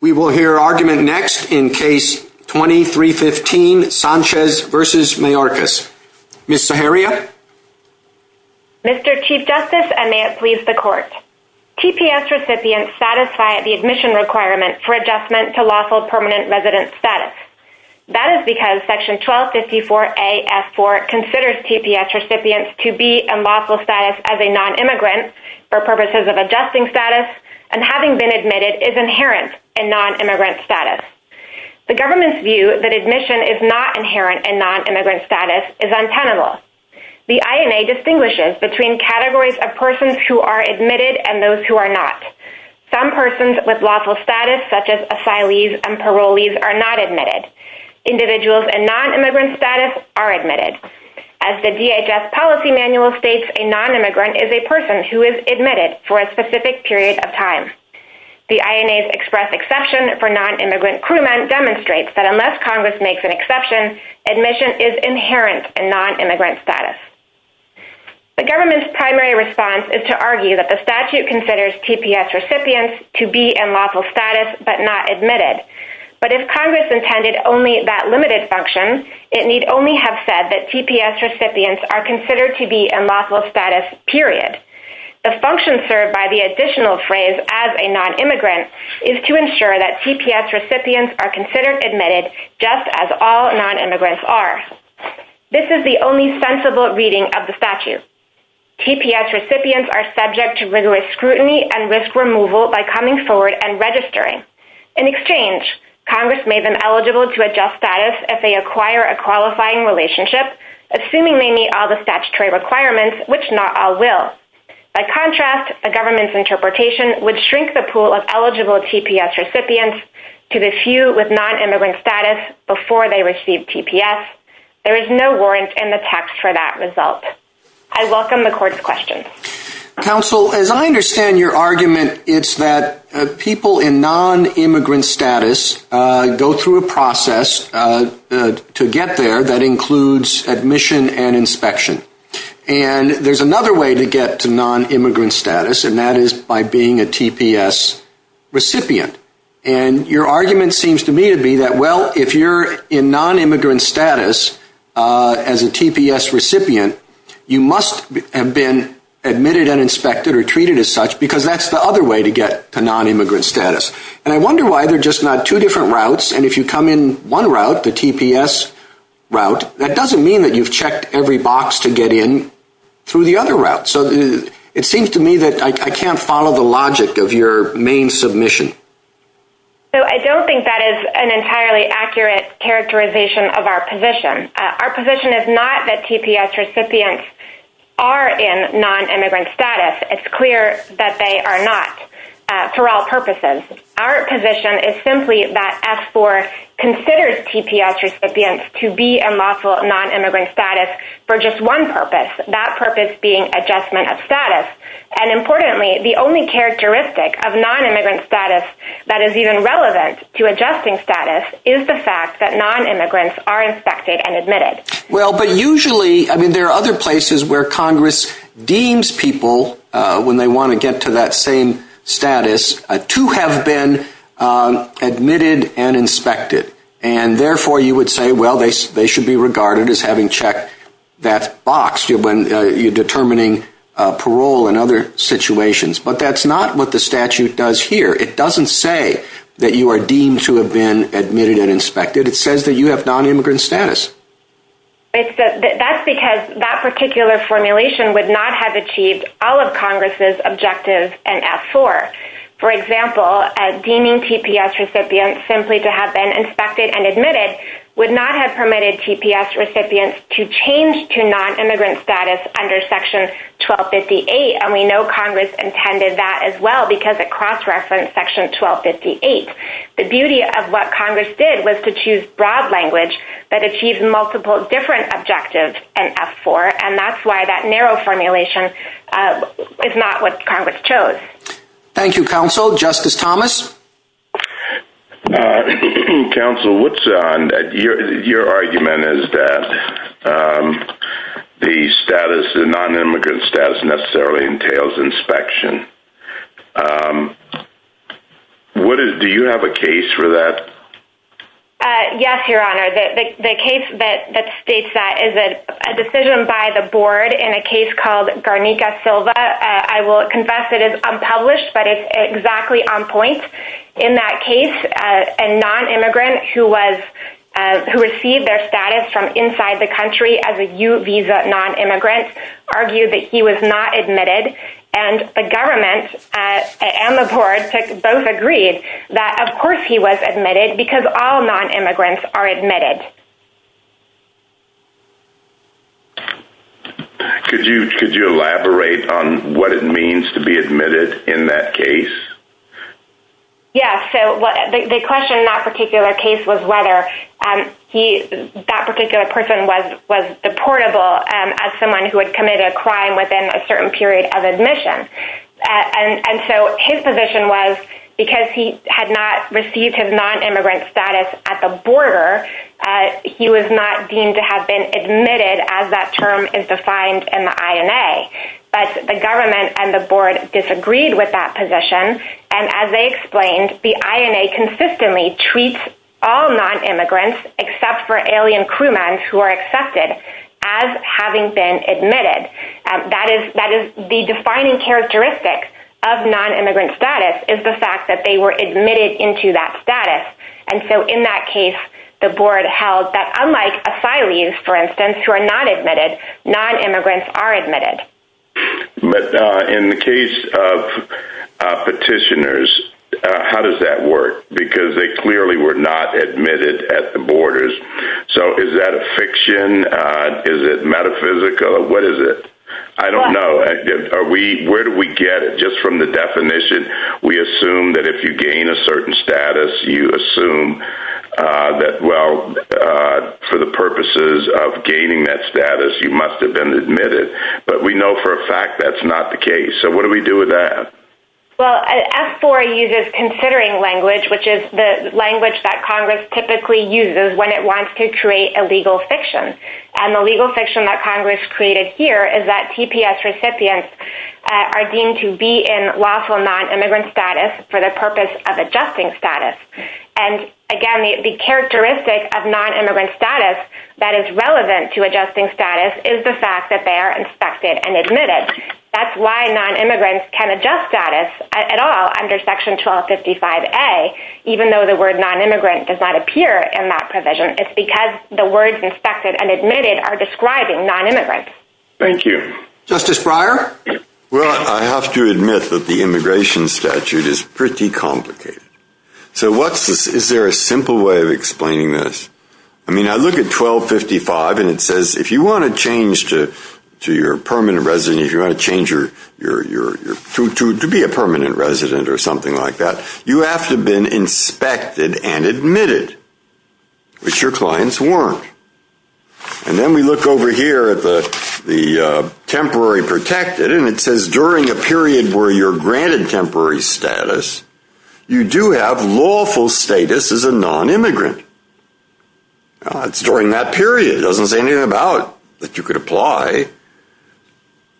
We will hear argument next in case 2315 Sanchez v. Mayorkas. Ms. Zaharia? Mr. Chief Justice, and may it please the Court, TPS recipients satisfy the admission requirement for adjustment to lawful permanent resident status. That is because Section 1254A.F.4 considers TPS recipients to be in lawful status as a non-immigrant for purposes of adjusting status and having been admitted is inherent in non-immigrant status. The government's view that admission is not inherent in non-immigrant status is untenable. The INA distinguishes between categories of persons who are admitted and those who are not. Some persons with lawful status such as asylees and parolees are not admitted. Individuals in non-immigrant status are admitted. As the DHS policy manual states, a non-immigrant is a person who is admitted for a specific period of time. The INA's express exception for non-immigrant crewmen demonstrates that unless Congress makes an exception, admission is inherent in non-immigrant status. The government's primary response is to argue that the statute considers TPS recipients to be in lawful status but not admitted. But if Congress intended only that limited function, it need only have said that TPS recipients are considered to be in lawful status, period. The function served by the additional phrase as a non-immigrant is to ensure that TPS recipients are considered admitted just as all non-immigrants are. This is the only sensible reading of the statute. TPS recipients are subject to rigorous scrutiny and risk removal by coming forward and registering. In exchange, Congress made them eligible to adjust status if they acquire a qualifying relationship, assuming they meet all the statutory requirements, which not all will. By contrast, the government's interpretation would shrink the pool of eligible TPS recipients to the few with non-immigrant status before they receive TPS. There is no warrant in the text for that result. I welcome the court's questions. Counsel, as I understand your argument, it's that people in non-immigrant status go through a process to get there that includes admission and inspection. And there's another way to get to non-immigrant status, and that is by being a TPS recipient. And your argument seems to me to be that, well, if you're in non-immigrant status as a TPS recipient, you must have been admitted and inspected or treated as such because that's the other way to get to non-immigrant status. And I wonder why they're just not two different routes. And if you come in one route, the TPS route, that doesn't mean that you've checked every box to get in through the other route. So it seems to me that I can't follow the logic of your main submission. So I don't think that is an entirely accurate characterization of our position. Our position is not that TPS recipients are in non-immigrant status. It's clear that they are not for all purposes. Our position is simply that S4 considers TPS recipients to be in lawful non-immigrant status for just one purpose, that purpose being adjustment of status. And importantly, the only characteristic of non-immigrant status that is even relevant to adjusting status is the fact that non-immigrants are inspected and admitted. Well, but usually, I mean, there are other places where Congress deems people, when they want to get to that same status, to have been admitted and inspected. And therefore, you would say, well, they should be regarded as having checked that box when you're determining parole and other situations. But that's not what the statute does here. It doesn't say that you are deemed to have been admitted and inspected. It says that you have non-immigrant status. That's because that particular formulation would not have achieved all of Congress's objectives in S4. For example, deeming TPS recipients simply to have been inspected and admitted would not have permitted TPS recipients to change to non-immigrant status under Section 1258. And we know Congress intended that as well because it cross-referenced Section 1258. The beauty of what Congress did was to choose broad language that achieves multiple different objectives in S4, and that's why that narrow formulation is not what Congress chose. Thank you, Counsel. Justice Thomas? Counsel, what's on your argument is that the status, the non-immigrant status necessarily entails inspection. Do you have a case for that? Yes, Your Honor. The case that states that is a decision by the board in a case called Garnica-Silva. I will confess it is unpublished, but it's exactly on point. In that case, a non-immigrant who received their status from inside the country as a U-Visa non-immigrant argued that he was not admitted, and the government and the board both agreed that, of course, he was admitted because all non-immigrants are admitted. Could you elaborate on what it means to be admitted in that case? Yes. The question in that particular case was whether that particular person was deportable as someone who had committed a crime within a certain period of admission. His position was because he had not received his non-immigrant status at the border, he was not deemed to have been admitted as that term is defined in the INA, but the government and the board disagreed with that position. As they explained, the INA consistently treats all non-immigrants except for alien crewmen who are accepted as having been admitted. That is the defining characteristic of non-immigrant status is the fact that they were admitted into that status. In that case, the board held that unlike asylees, for instance, who are not admitted, non-immigrants are admitted. In the case of petitioners, how does that work? Because they clearly were not admitted at the borders. Is that a fiction? Is it metaphysical? What is it? I don't know. Where do we get it? Just from the definition, we assume that if you gain a certain status, you assume that for the purposes of gaining that status, you must have been admitted. But we know for a fact that's not the case. What do we do with that? Well, F4 uses considering language, which is the language that Congress typically uses when it wants to create a legal fiction. The legal fiction that Congress created here is that TPS recipients are deemed to be in lawful non-immigrant status for the purpose of adjusting status. Again, the characteristic of non-immigrant status that is relevant to adjusting status is the status at all under Section 1255A, even though the word non-immigrant does not appear in that provision. It's because the words inspected and admitted are describing non-immigrants. Thank you. Justice Breyer? Well, I have to admit that the immigration statute is pretty complicated. So is there a simple way of explaining this? I mean, I look at 1255 and it says if you want to be a permanent resident or something like that, you have to have been inspected and admitted, which your clients weren't. And then we look over here at the temporary protected and it says during a period where you're granted temporary status, you do have lawful status as a non-immigrant. Well, it's during that period. It doesn't say anything about that you could apply.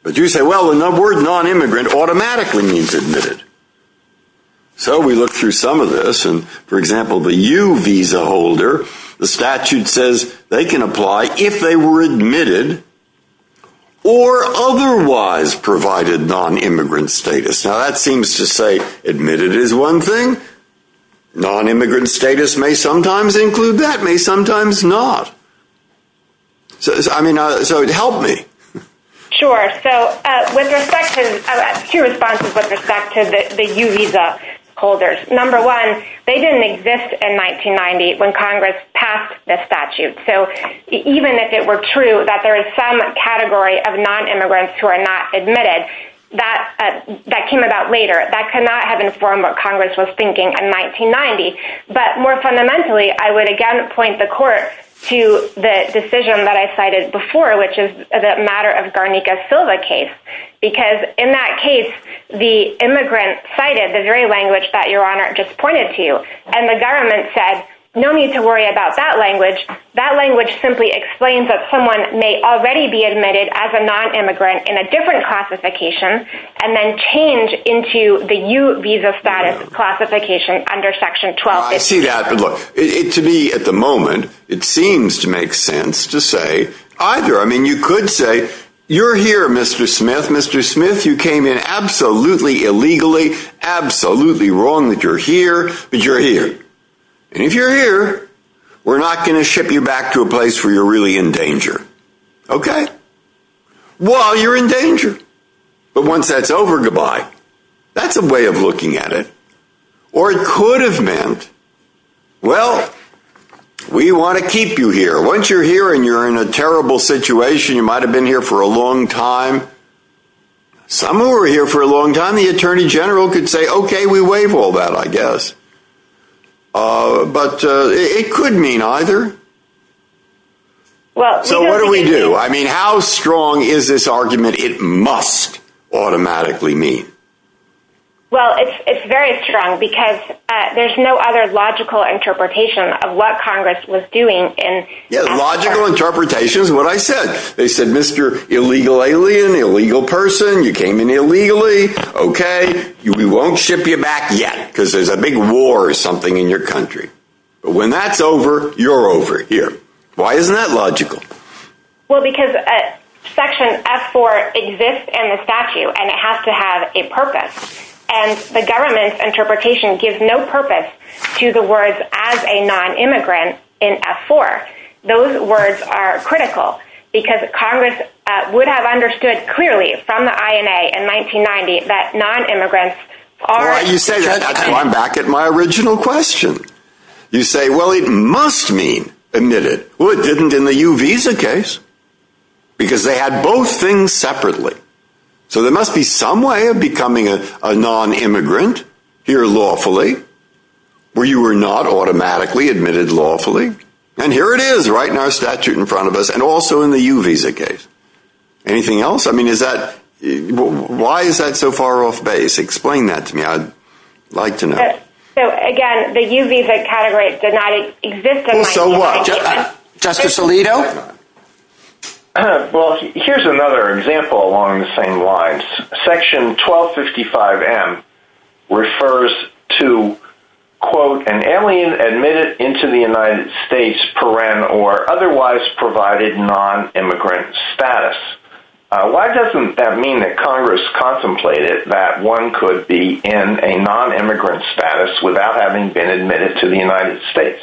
But you say, well, the word non-immigrant automatically means admitted. So we look through some of this and, for example, the U visa holder, the statute says they can apply if they were admitted or otherwise provided non-immigrant status. Now that seems to say admitted is one thing. Non-immigrant status may sometimes include that, may sometimes not. I mean, so it helped me. Sure. So with respect to a few responses with respect to the U visa holders, number one, they didn't exist in 1990 when Congress passed the statute. So even if it were true that there is some category of non-immigrants who are not admitted, that came about later. That cannot have informed what Congress was thinking in 1990. But more fundamentally, I would again point the court to the decision that I cited before, which is the matter of Garnica-Silva case. Because in that case, the immigrant cited the very language that your honor just pointed to. And the government said, no need to worry about that language. That language simply explains that someone may already be admitted as a non-immigrant in a different classification and then change into the U visa status classification under section 12. I see that. But look, to me at the moment, it seems to make sense to say either. I mean, you could say you're here, Mr. Smith. Mr. Smith, you came in absolutely illegally, absolutely wrong that you're here, but you're here. And if you're here, we're not going to ship you back to a place where you're really in danger. OK? Well, you're in danger. But once that's over, goodbye. That's a way of looking at it. Or it could have meant, well, we want to keep you here. Once you're here and you're in a terrible situation, you might have been here for a long time. Some who were here for a long time, the attorney general could say, OK, we waive all that, I guess. But it could mean either. So what do we do? I mean, how strong is this argument? It must automatically mean. Well, it's very strong because there's no other logical interpretation of what Congress was doing. And logical interpretation is what I said. They said, Mr. illegal alien, illegal person, you came in illegally. OK, we won't ship you back yet because there's a big war or something in your country. But when that's over, you're over here. Why isn't that logical? Well, because Section F-4 exists in the statute and it has to have a purpose. And the government's interpretation gives no purpose to the words as a non-immigrant in F-4. Those words are critical because Congress would have understood clearly from the INA in 1990 that I'm back at my original question. You say, well, it must mean admitted. Well, it didn't in the U-Visa case because they had both things separately. So there must be some way of becoming a non-immigrant here lawfully where you were not automatically admitted lawfully. And here it is right in our statute in front of us and also in the U-Visa case. Anything else? I mean, is that why is that so far off base? Explain that to me. I'd like to know. So again, the U-Visa category did not exist. So what? Justice Alito? Well, here's another example along the same lines. Section 1255 M refers to, quote, an alien admitted into the United States per ren or otherwise provided non-immigrant status. Why doesn't that mean that Congress contemplated that one could be in a non-immigrant status without having been admitted to the United States?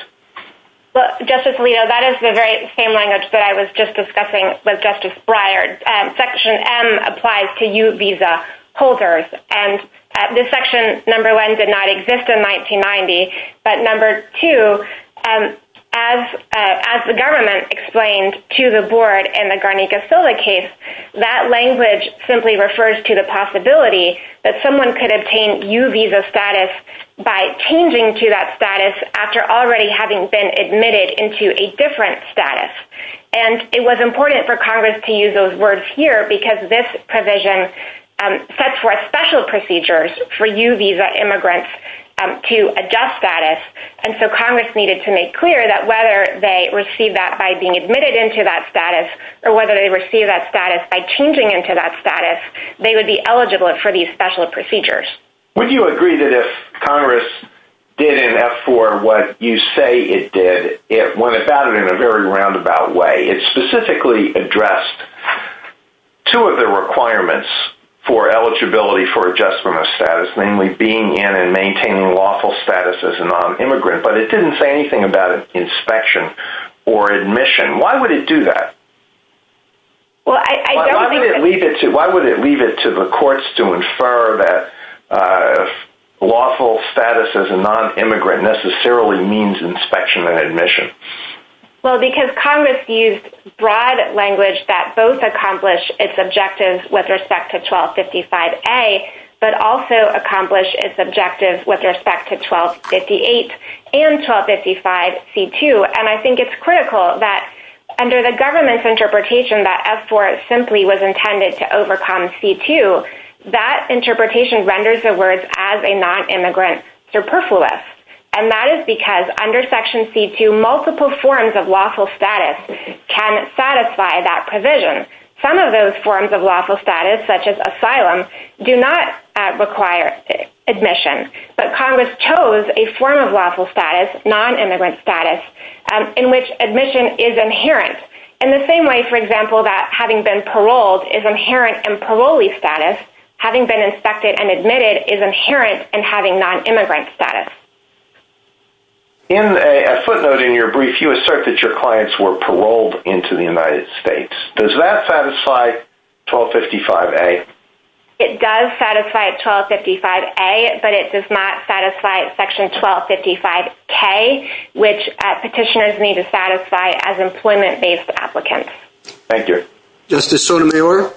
Well, Justice Alito, that is the very same language that I was just discussing with Justice Breyer. Section M applies to U-Visa holders. And this section, number one, did not exist in 1990. But number two, as the government explained to the board in the Garnica-Silva case, that language simply refers to the possibility that someone could obtain U-Visa status by changing to that status after already having been admitted into a different status. And it was important for Congress to use those words here because this provision sets forth special procedures for U-Visa immigrants to adjust status. And so Congress needed to make clear that whether they receive that by being admitted into that status or whether they receive that status by changing into that status, they would be eligible for these special procedures. Would you agree that if Congress did in F-4 what you say it did, it went about it in a very roundabout way? It specifically addressed two of the requirements for eligibility for adjustment of status, namely being in and maintaining lawful status as a non-immigrant, but it didn't say anything about inspection or admission. Why would it do that? Why would it leave it to the courts to infer that lawful status as a non-immigrant necessarily means inspection and admission? Well, because Congress used broad language that both accomplish its objectives with respect to 1255A, but also accomplish its objectives with respect to 1258 and 1255C-2. And I think it's critical that under the government's interpretation that F-4 simply was intended to overcome C-2, that interpretation renders the words as a non-immigrant superfluous. And that is because under Section C-2 multiple forms of lawful status can satisfy that provision. Some of those forms of lawful status, such as asylum, do not require admission, but Congress chose a form of lawful status, non-immigrant status, in which admission is inherent. In the same way, for example, that having been paroled is inherent in parolee status, having been inspected and admitted is inherent in non-immigrant status. In a footnote in your brief, you assert that your clients were paroled into the United States. Does that satisfy 1255A? It does satisfy 1255A, but it does not satisfy Section 1255K, which petitioners need to satisfy as employment-based applicants. Thank you. Justice Sotomayor?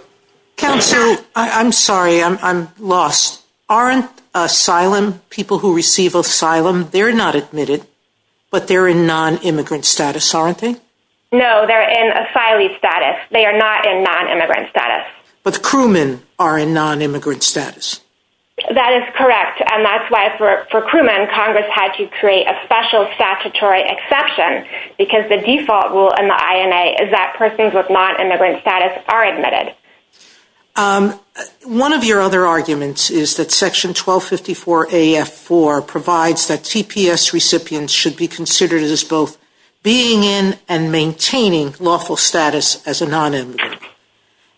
Counsel, I'm sorry, I'm lost. Aren't asylum, people who receive asylum, they're not admitted, but they're in non-immigrant status, aren't they? No, they're in asylee status. They are not in non-immigrant status. But crewmen are in non-immigrant status. That is correct. And that's why for crewmen, Congress had to create a special statutory exception, because the default rule in the INA is that persons with non-immigrant status are admitted. One of your other arguments is that Section 1254AF4 provides that TPS recipients should be considered as both being in and maintaining lawful status as a non-immigrant.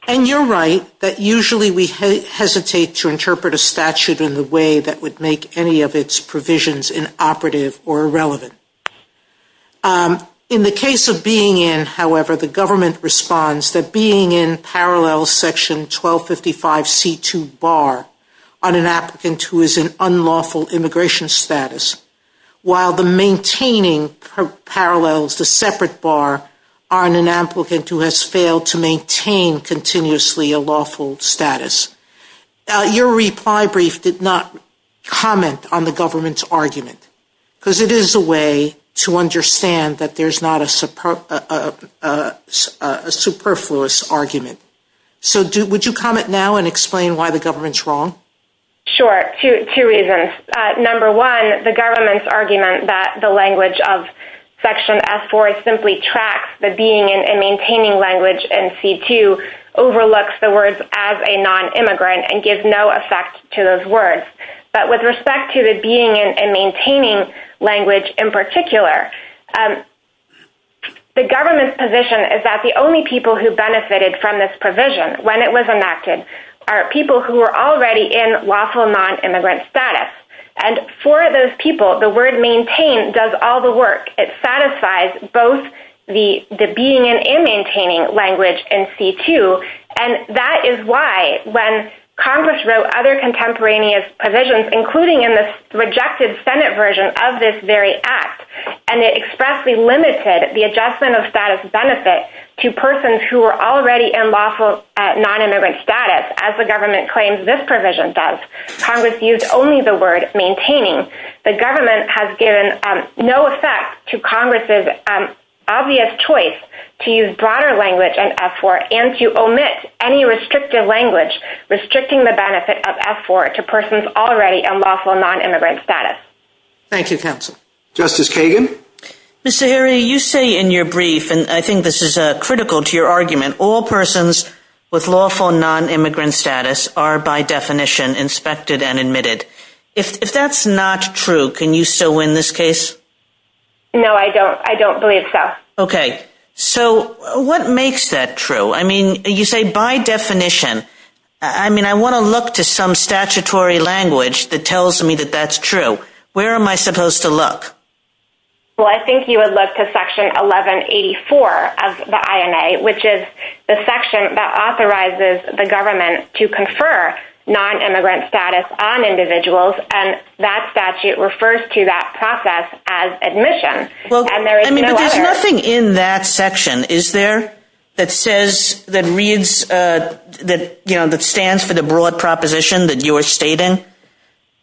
And you're right that usually we hesitate to interpret a statute in the way that would make any of its arguments operative or irrelevant. In the case of being in, however, the government responds that being in parallels Section 1255C2 bar on an applicant who is in unlawful immigration status, while the maintaining parallels the separate bar on an applicant who has failed to maintain continuously a lawful status. Your reply brief did not comment on the government's argument. Because it is a way to understand that there's not a superfluous argument. So would you comment now and explain why the government's wrong? Sure. Two reasons. Number one, the government's argument that the language of Section F4 simply tracks the being and maintaining language in C2 overlooks the words as a language in particular. The government's position is that the only people who benefited from this provision when it was enacted are people who are already in lawful non-immigrant status. And for those people, the word maintain does all the work. It satisfies both the being and maintaining language in C2. And that is why when Congress wrote other contemporaneous provisions, including in the rejected Senate version of this very act, and it expressly limited the adjustment of status benefit to persons who are already in lawful non-immigrant status, as the government claims this provision does, Congress used only the word maintaining. The government has given no effect to Congress's obvious choice to use broader language in F4 and to omit any restrictive language, restricting the benefit of F4 to persons already in lawful non-immigrant status. Thank you, counsel. Justice Kagan. Mr. Harry, you say in your brief, and I think this is critical to your argument, all persons with lawful non-immigrant status are by definition inspected and admitted. If that's not true, can you still win this case? No, I don't. I don't believe so. Okay, so what makes that true? I mean, you say by definition. I mean, I want to look to some statutory language that tells me that that's true. Where am I supposed to look? Well, I think you would look to Section 1184 of the INA, which is the section that authorizes the government to confer non-immigrant status on individuals. And that statute refers to that process as admission. Well, I mean, there's nothing in that section, is there, that says, that reads, that, you know, that stands for the broad proposition that you're stating?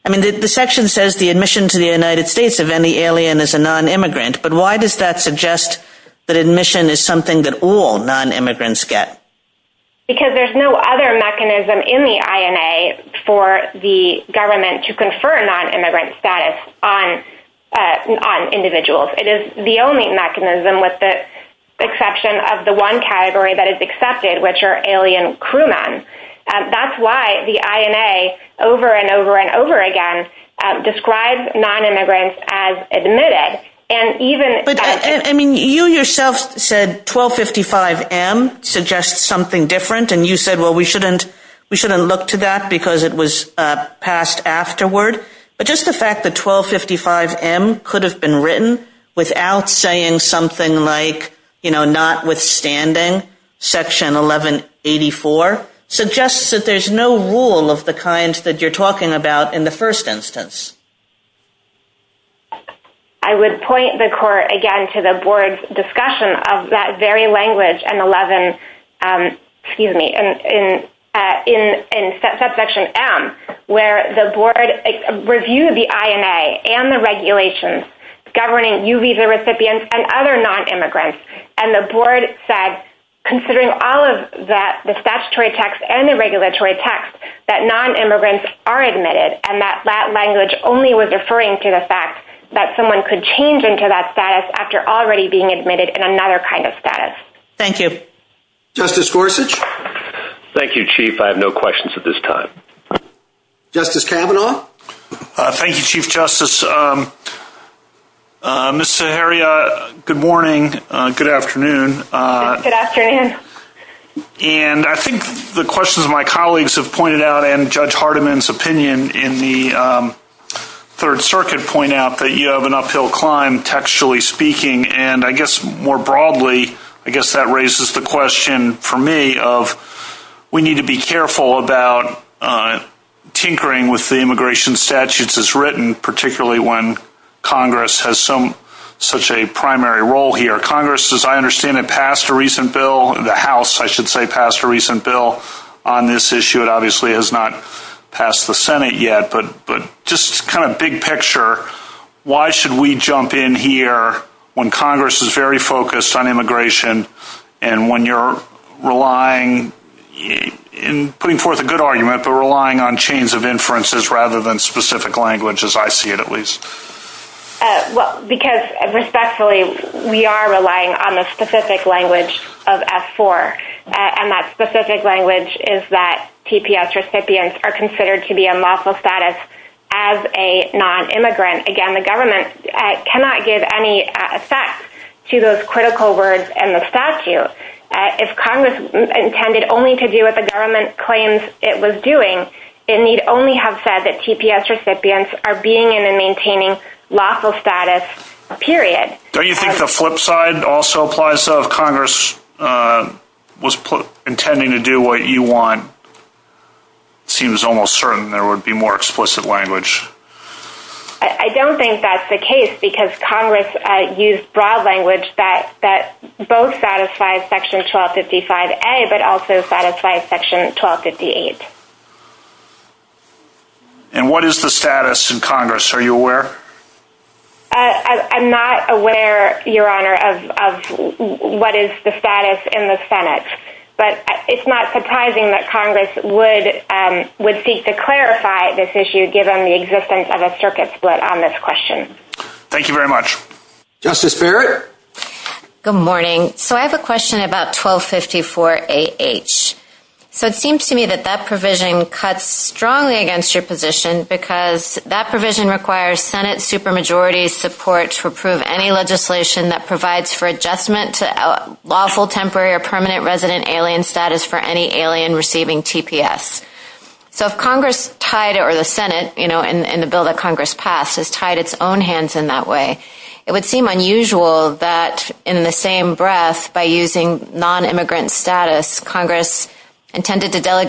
I mean, the section says the admission to the United States of any alien is a non-immigrant, but why does that suggest that admission is something that all non-immigrants get? Because there's no other mechanism in the INA for the government to confer non-immigrant status on individuals. It is the only mechanism with the exception of the one category that is accepted, which are alien crewmen. That's why the INA over and over and over again describes non-immigrants as admitted. But I mean, you yourself said 1255M suggests something different, and you said, well, we shouldn't look to that because it was passed afterward. But just the fact that 1255M could have been written without saying something like, you know, notwithstanding Section 1184 suggests that there's no rule of the kind that you're talking about in the first instance. I would point the court again to the board's discussion of that very language and 11, excuse me, in Subsection M, where the board reviewed the INA and the regulations governing U visa recipients and other non-immigrants. And the board said, considering all of that, the statutory text and the regulatory text, that non-immigrants are admitted. And that language only was referring to the fact that someone could change into that status after already being admitted in another kind of status. Thank you. Justice Gorsuch. Thank you, Chief. I have no questions at this time. Justice Kavanaugh. Thank you, Chief Justice. Ms. Zaharia, good morning. Good afternoon. Good afternoon. And I think the questions my colleagues have pointed out and Judge Hardiman's opinion in the Third Circuit point out that you more broadly, I guess that raises the question for me of we need to be careful about tinkering with the immigration statutes as written, particularly when Congress has such a primary role here. Congress, as I understand it, passed a recent bill. The House, I should say, passed a recent bill on this issue. It obviously has not passed the Senate yet. But just kind of big picture, why should we jump in here when Congress is very focused on immigration and when you're relying, putting forth a good argument, but relying on chains of inferences rather than specific languages, I see it at least? Well, because respectfully, we are relying on the specific language of F4. And that specific language is that TPS recipients are considered to be in lawful status as a non-immigrant. Again, the government cannot give any effect to those critical words and the statute. If Congress intended only to do what the government claims it was doing, it need only have said that TPS recipients are being in and maintaining lawful status, period. Don't you think the flip side also applies of Congress was intending to do what you want? It seems almost certain there would be more explicit language. I don't think that's the case because Congress used broad language that both satisfies Section 1255A but also satisfies Section 1258. And what is the status in Congress? Are you aware? I'm not aware, Your Honor, of what is the status in the Senate. But it's not surprising that Congress would seek to clarify this issue given the existence of a circuit split on this question. Thank you very much. Justice Barrett? Good morning. So I have a question about 1254AH. So it seems to me that that provision cuts supermajority support to approve any legislation that provides for adjustment to lawful temporary or permanent resident alien status for any alien receiving TPS. So if Congress tied or the Senate, you know, in the bill that Congress passed has tied its own hands in that way, it would seem unusual that in the same breath by using non-immigrant status, Congress intended to those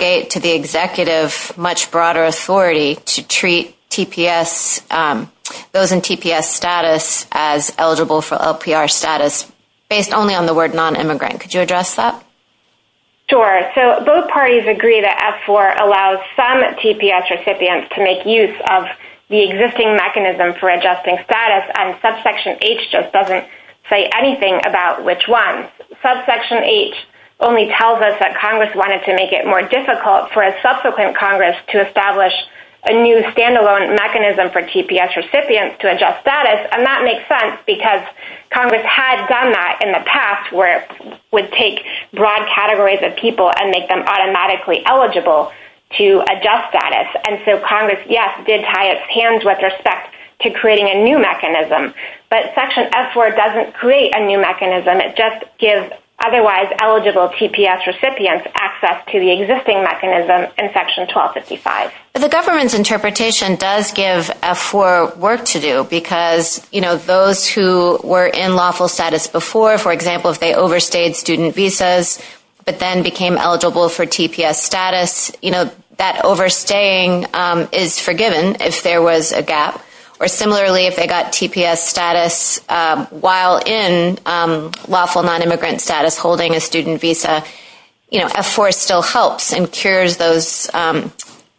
in TPS status as eligible for LPR status based only on the word non-immigrant. Could you address that? Sure. So both parties agree that F4 allows some TPS recipients to make use of the existing mechanism for adjusting status and subsection H just doesn't say anything about which one. Subsection H only tells us that Congress wanted to make it more difficult for a subsequent Congress to establish a new standalone mechanism for TPS recipients to adjust status. And that makes sense because Congress had done that in the past where it would take broad categories of people and make them automatically eligible to adjust status. And so Congress, yes, did tie its hands with respect to creating a new mechanism, but section F4 doesn't create a new mechanism. It just gives otherwise eligible TPS recipients access to the existing mechanism in section 1255. The government's interpretation does give F4 work to do because, you know, those who were in lawful status before, for example, if they overstayed student visas, but then became eligible for TPS status, you know, that overstaying is forgiven if there was a gap, or similarly, if they got TPS status while in lawful non-immigrant status holding a student visa, you know, F4 still helps and cures those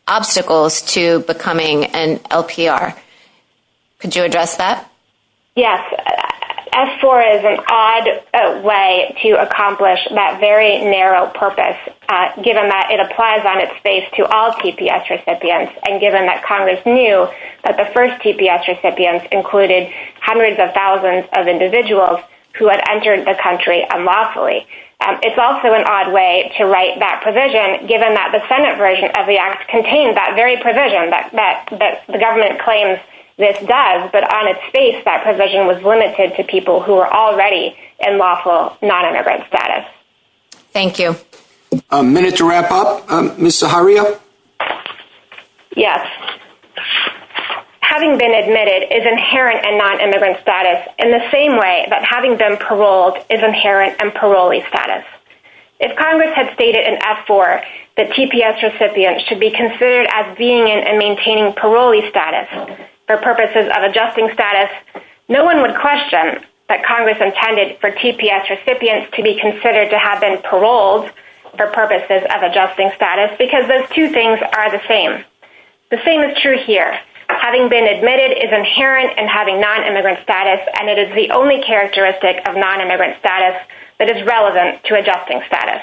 obstacles to becoming an LPR. Could you address that? Yes, F4 is an odd way to accomplish that very narrow purpose, given that it applies on its face to all TPS recipients, and given that Congress knew that the first TPS recipients included hundreds of thousands of individuals who had entered the country unlawfully. It's also an odd way to write that provision, given that the Senate version of the act contained that very provision that the government claims this does, but on its face that provision was limited to people who were already in lawful non-immigrant status. Thank you. A minute to wrap up. Ms. Zaharia? Yes. Having been admitted is inherent in non-immigrant status in the same way that having been paroled is inherent in parolee status. If Congress had stated in F4 that TPS recipients should be considered as being in and maintaining parolee status for purposes of adjusting status, no one would question that Congress intended for TPS recipients to be considered to have been The same is true here. Having been admitted is inherent in having non-immigrant status, and it is the only characteristic of non-immigrant status that is relevant to adjusting status.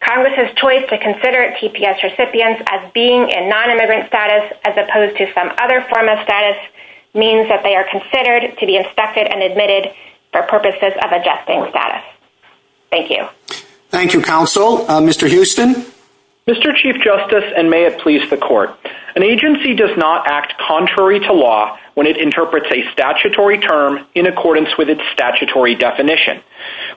Congress's choice to consider TPS recipients as being in non-immigrant status as opposed to some other form of status means that they are considered to be inspected and admitted for purposes of adjusting status. Thank you. Thank you, Counsel. Mr. Houston? Mr. Chief Justice, and may it please the Court, an agency does not act contrary to law when it interprets a statutory term in accordance with its statutory definition.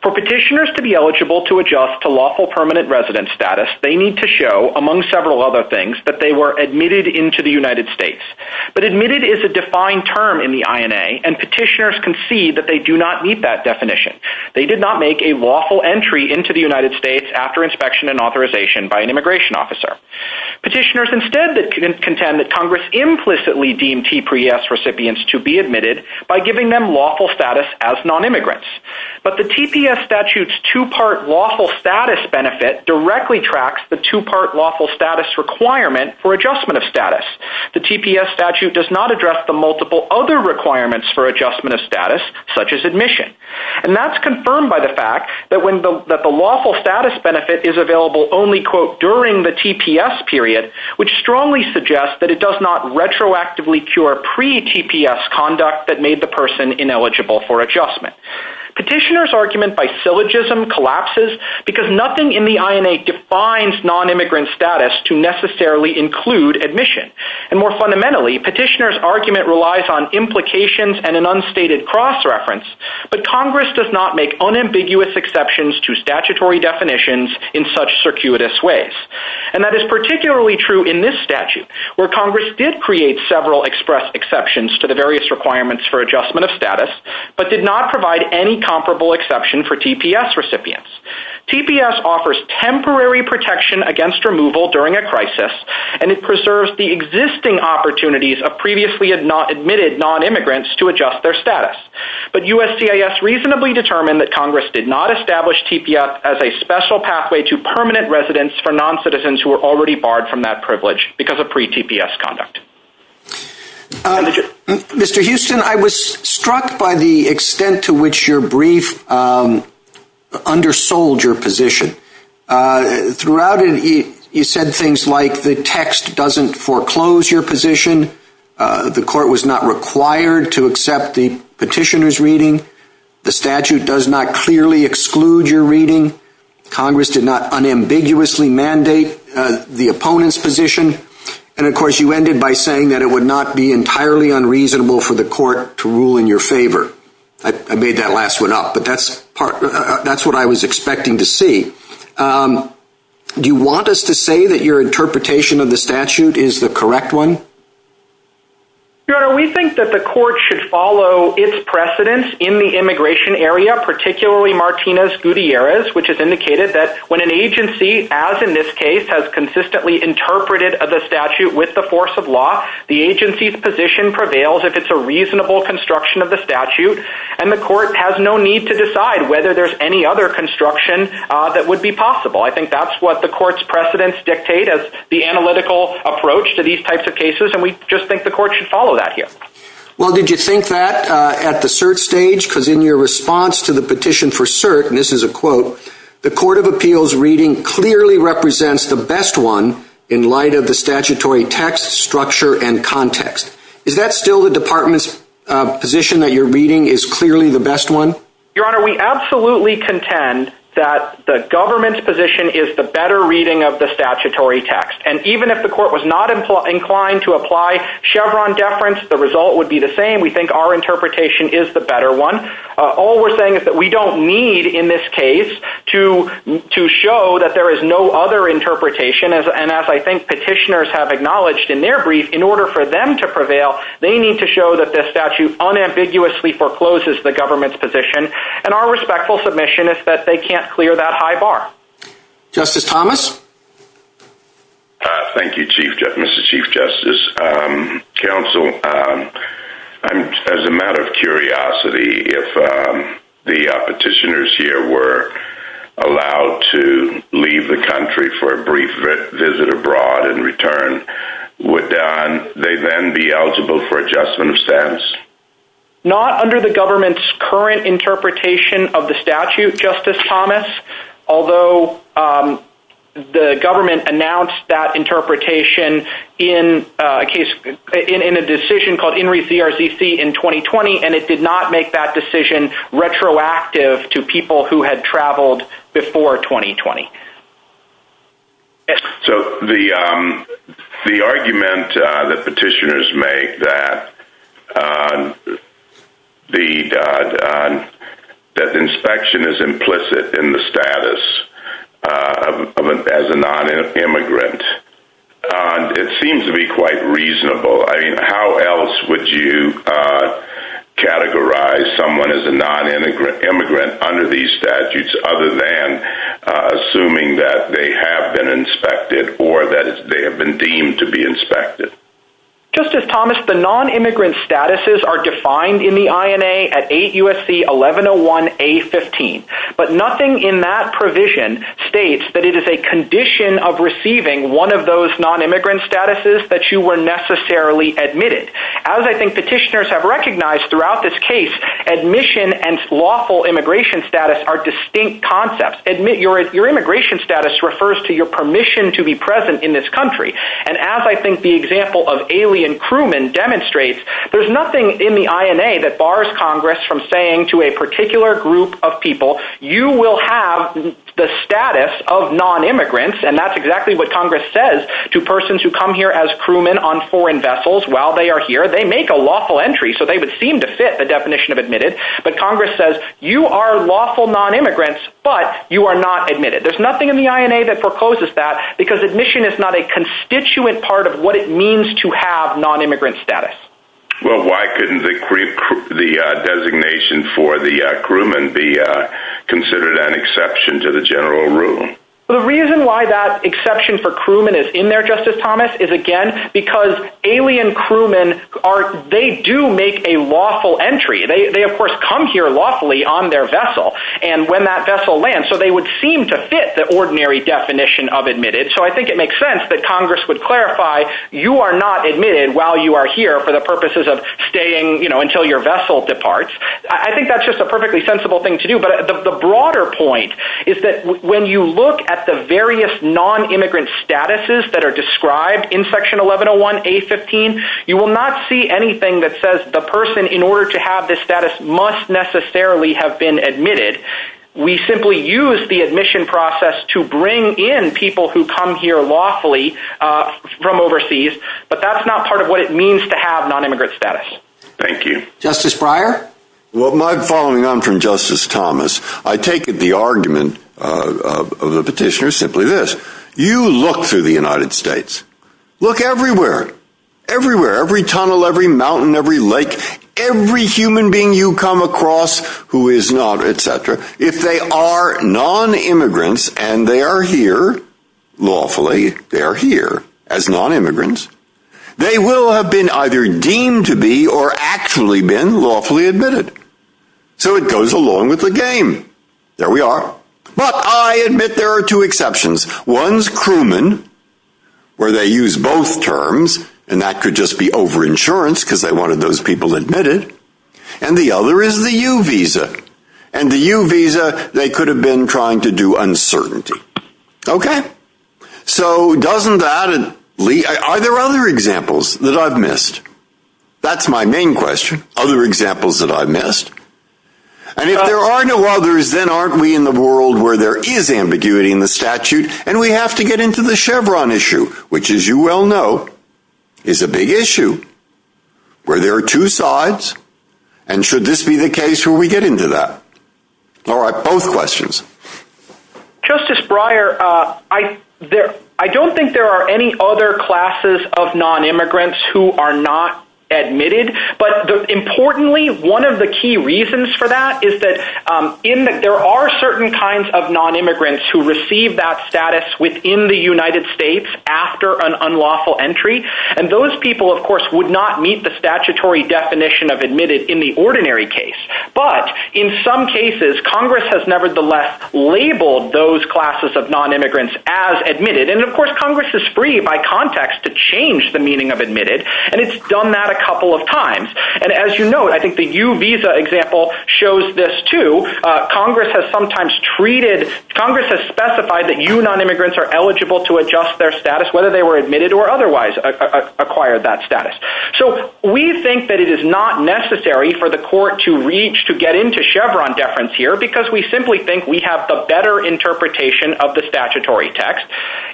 For petitioners to be eligible to adjust to lawful permanent resident status, they need to show, among several other things, that they were admitted into the United States. But admitted is a defined term in the INA, and petitioners concede that they do not meet that definition. They did not make a lawful entry into the United States after inspection and authorization by an immigration officer. Petitioners instead contend that Congress implicitly deemed TPS recipients to be admitted by giving them lawful status as non-immigrants. But the TPS statute's two-part lawful status benefit directly tracks the two-part lawful status requirement for adjustment of status. The TPS statute does not address the multiple other requirements for adjustment of status, such as admission. And that's confirmed by the fact that the lawful status benefit is available only, quote, during the TPS period, which strongly suggests that it does not retroactively cure pre-TPS conduct that made the person ineligible for adjustment. Petitioners' argument by syllogism collapses because nothing in the INA defines non-immigrant status to necessarily include admission. And more fundamentally, petitioners' argument relies on implications and an unstated cross-reference, but Congress does not make unambiguous exceptions to statutory definitions in such circuitous ways. And that is particularly true in this statute, where Congress did create several express exceptions to the various requirements for adjustment of status, but did not provide any comparable exception for TPS recipients. TPS offers temporary protection against removal during a crisis, and it preserves the existing opportunities of previously admitted non-immigrants to adjust their status. But USCIS reasonably determined that Congress did not establish TPS as a special pathway to permanent residence for non-citizens who were already barred from that privilege because of pre-TPS conduct. Mr. Houston, I was struck by the extent to which your brief undersold your position. Throughout it, you said things like the text doesn't foreclose your position, the court was not required to accept the petitioner's reading, the statute does not clearly exclude your reading, Congress did not unambiguously mandate the opponent's position, and of course you ended by saying that it would not be entirely unreasonable for the court to rule in your favor. I made that last one up, but that's what I was expecting to see. Do you want us to say that your interpretation of the statute is the correct one? Your Honor, we think that the court should follow its precedence in the immigration area, particularly Martinez-Gutierrez, which has indicated that when an agency, as in this case, has consistently interpreted the statute with the force of law, the agency's position prevails if it's a reasonable construction of the statute, and the court has no need to decide whether there's any other construction that would be possible. I think that's what the court's precedence dictate as the analytical approach to these types of cases, and we just think the court should follow that here. Well, did you think that at the cert stage? Because in your response to the petition for cert, and this is a quote, the court of appeals reading clearly represents the best one in light of the statutory text, structure, and context. Is that still the department's position that your reading is clearly the best one? Your Honor, we absolutely contend that the government's position is the better reading of the statutory text, and even if the court was not inclined to apply Chevron deference, the result would be the same. We think our interpretation is the better one. All we're saying is that we don't need, in this case, to show that there is no other interpretation, and as I think petitioners have acknowledged in their brief, in order for them to prevail, they need to show that this statute unambiguously forecloses the government's position, and our respectful submission is that they can't clear that high bar. Justice Thomas? Thank you, Mr. Chief Justice. Counsel, as a matter of curiosity, if the petitioners here were allowed to leave the country for a brief visit abroad in return, would they then be eligible for adjustment of status? Not under the government's current interpretation of the statute, Justice Thomas, although the government announced that interpretation in a case, in a decision called INRI CRCC in 2020, and it did not make that decision retroactive to people who had traveled before 2020. So the argument that petitioners make that the inspection is implicit in the status as a non-immigrant, it seems to be quite reasonable. I mean, how else would you categorize someone as a non-immigrant under these statutes other than assuming that they have been inspected or that they have been deemed to be inspected? Justice Thomas, the non-immigrant statuses are defined in the INA at 8 U.S.C. 1101-A-15, but nothing in that provision states that it is a condition of receiving one of those non-immigrant statuses that you were necessarily admitted. As I think petitioners have recognized throughout this case, admission and lawful immigration status are distinct concepts. Your immigration status refers to your permission to be present in this country. And as I think the example of alien crewmen demonstrates, there's nothing in the INA that bars Congress from saying to a particular group of people, you will have the status of non-immigrants, and that's exactly what Congress says to persons who come here as crewmen on foreign vessels while they are here. They make a lawful entry, so they would seem to fit the definition of admitted, but Congress says you are lawful non-immigrants, but you are not admitted. There's nothing in the INA that forecloses that because admission is not a constituent part of what it means to have non-immigrant status. Well, why couldn't the designation for the crewman be considered an exception to the general rule? The reason why that exception for crewmen is in there, Justice Thomas, is again, because alien crewmen, they do make a lawful entry. They of course come here lawfully on their vessel and when that vessel lands, so they would seem to fit the ordinary definition of admitted. So I think it makes sense that Congress would clarify you are not admitted while you are here for the purposes of staying until your vessel departs. I think that's just a perfectly sensible thing to do, but the broader point is that when you look at the various non-immigrant statuses that are described in Section 1101A15, you will not see anything that says the person in order to have this status must necessarily have been admitted. We simply use the admission process to bring in people who come here lawfully from overseas, but that's not part of what it means to have non-immigrant status. Thank you. Justice Breyer? Well, my following, I'm from Justice Thomas. I take the argument of the petitioner simply this. You look through the United States, look everywhere, everywhere, every tunnel, every mountain, every lake, every human being you come across who is not, etc. If they are non-immigrants and they are here lawfully, they are here as non-immigrants. They will have been either deemed to be or actually been lawfully admitted. So it goes along with the game. There we are. But I admit there are two exceptions. One's crewman, where they use both terms, and that could just be over-insurance because they wanted those people admitted. And the other is the U visa. And the U visa, they could have been trying to do uncertainty. Okay. So doesn't that lead, are there other examples that I've missed? That's my main question. Other examples that I've missed. And if there are no others, then aren't we in the world where there is ambiguity in the statute and we have to get into the Chevron issue, which as you well know, is a big issue where there are two sides. And should this be the case where we get into that? All right. Both questions. Justice Breyer, I don't think there are any other classes of non-immigrants who are not admitted. But importantly, one of the key reasons for that is that there are certain kinds of non-immigrants who receive that status within the United States after an unlawful entry. And those people, of course, would not meet the statutory definition of admitted in the ordinary case. But in some cases, Congress has nevertheless labeled those classes of non-immigrants as admitted. And of course, Congress is free by context to change the meaning of admitted. And it's done that a couple of times. And as you know, I think the U visa example shows this too. Congress has specified that U non-immigrants are eligible to adjust their status, whether they were admitted or otherwise acquired that status. So we think that it is not necessary for the court to reach to get into Chevron deference here because we simply think we have the better interpretation of the statutory text.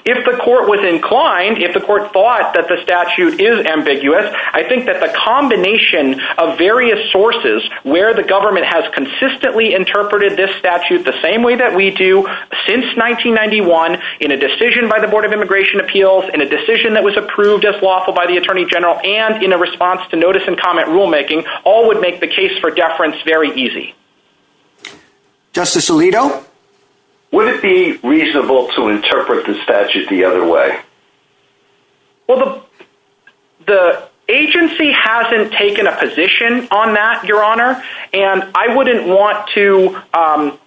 If the court was inclined, if the court thought that the statute is ambiguous, I think that the combination of various sources where the government has consistently interpreted this statute the same way that we do since 1991, in a decision by the Board of Immigration Appeals, in a decision that in a response to notice and comment rulemaking, all would make the case for deference very easy. Justice Alito, would it be reasonable to interpret the statute the other way? Well, the agency hasn't taken a position on that, Your Honor. And I wouldn't want to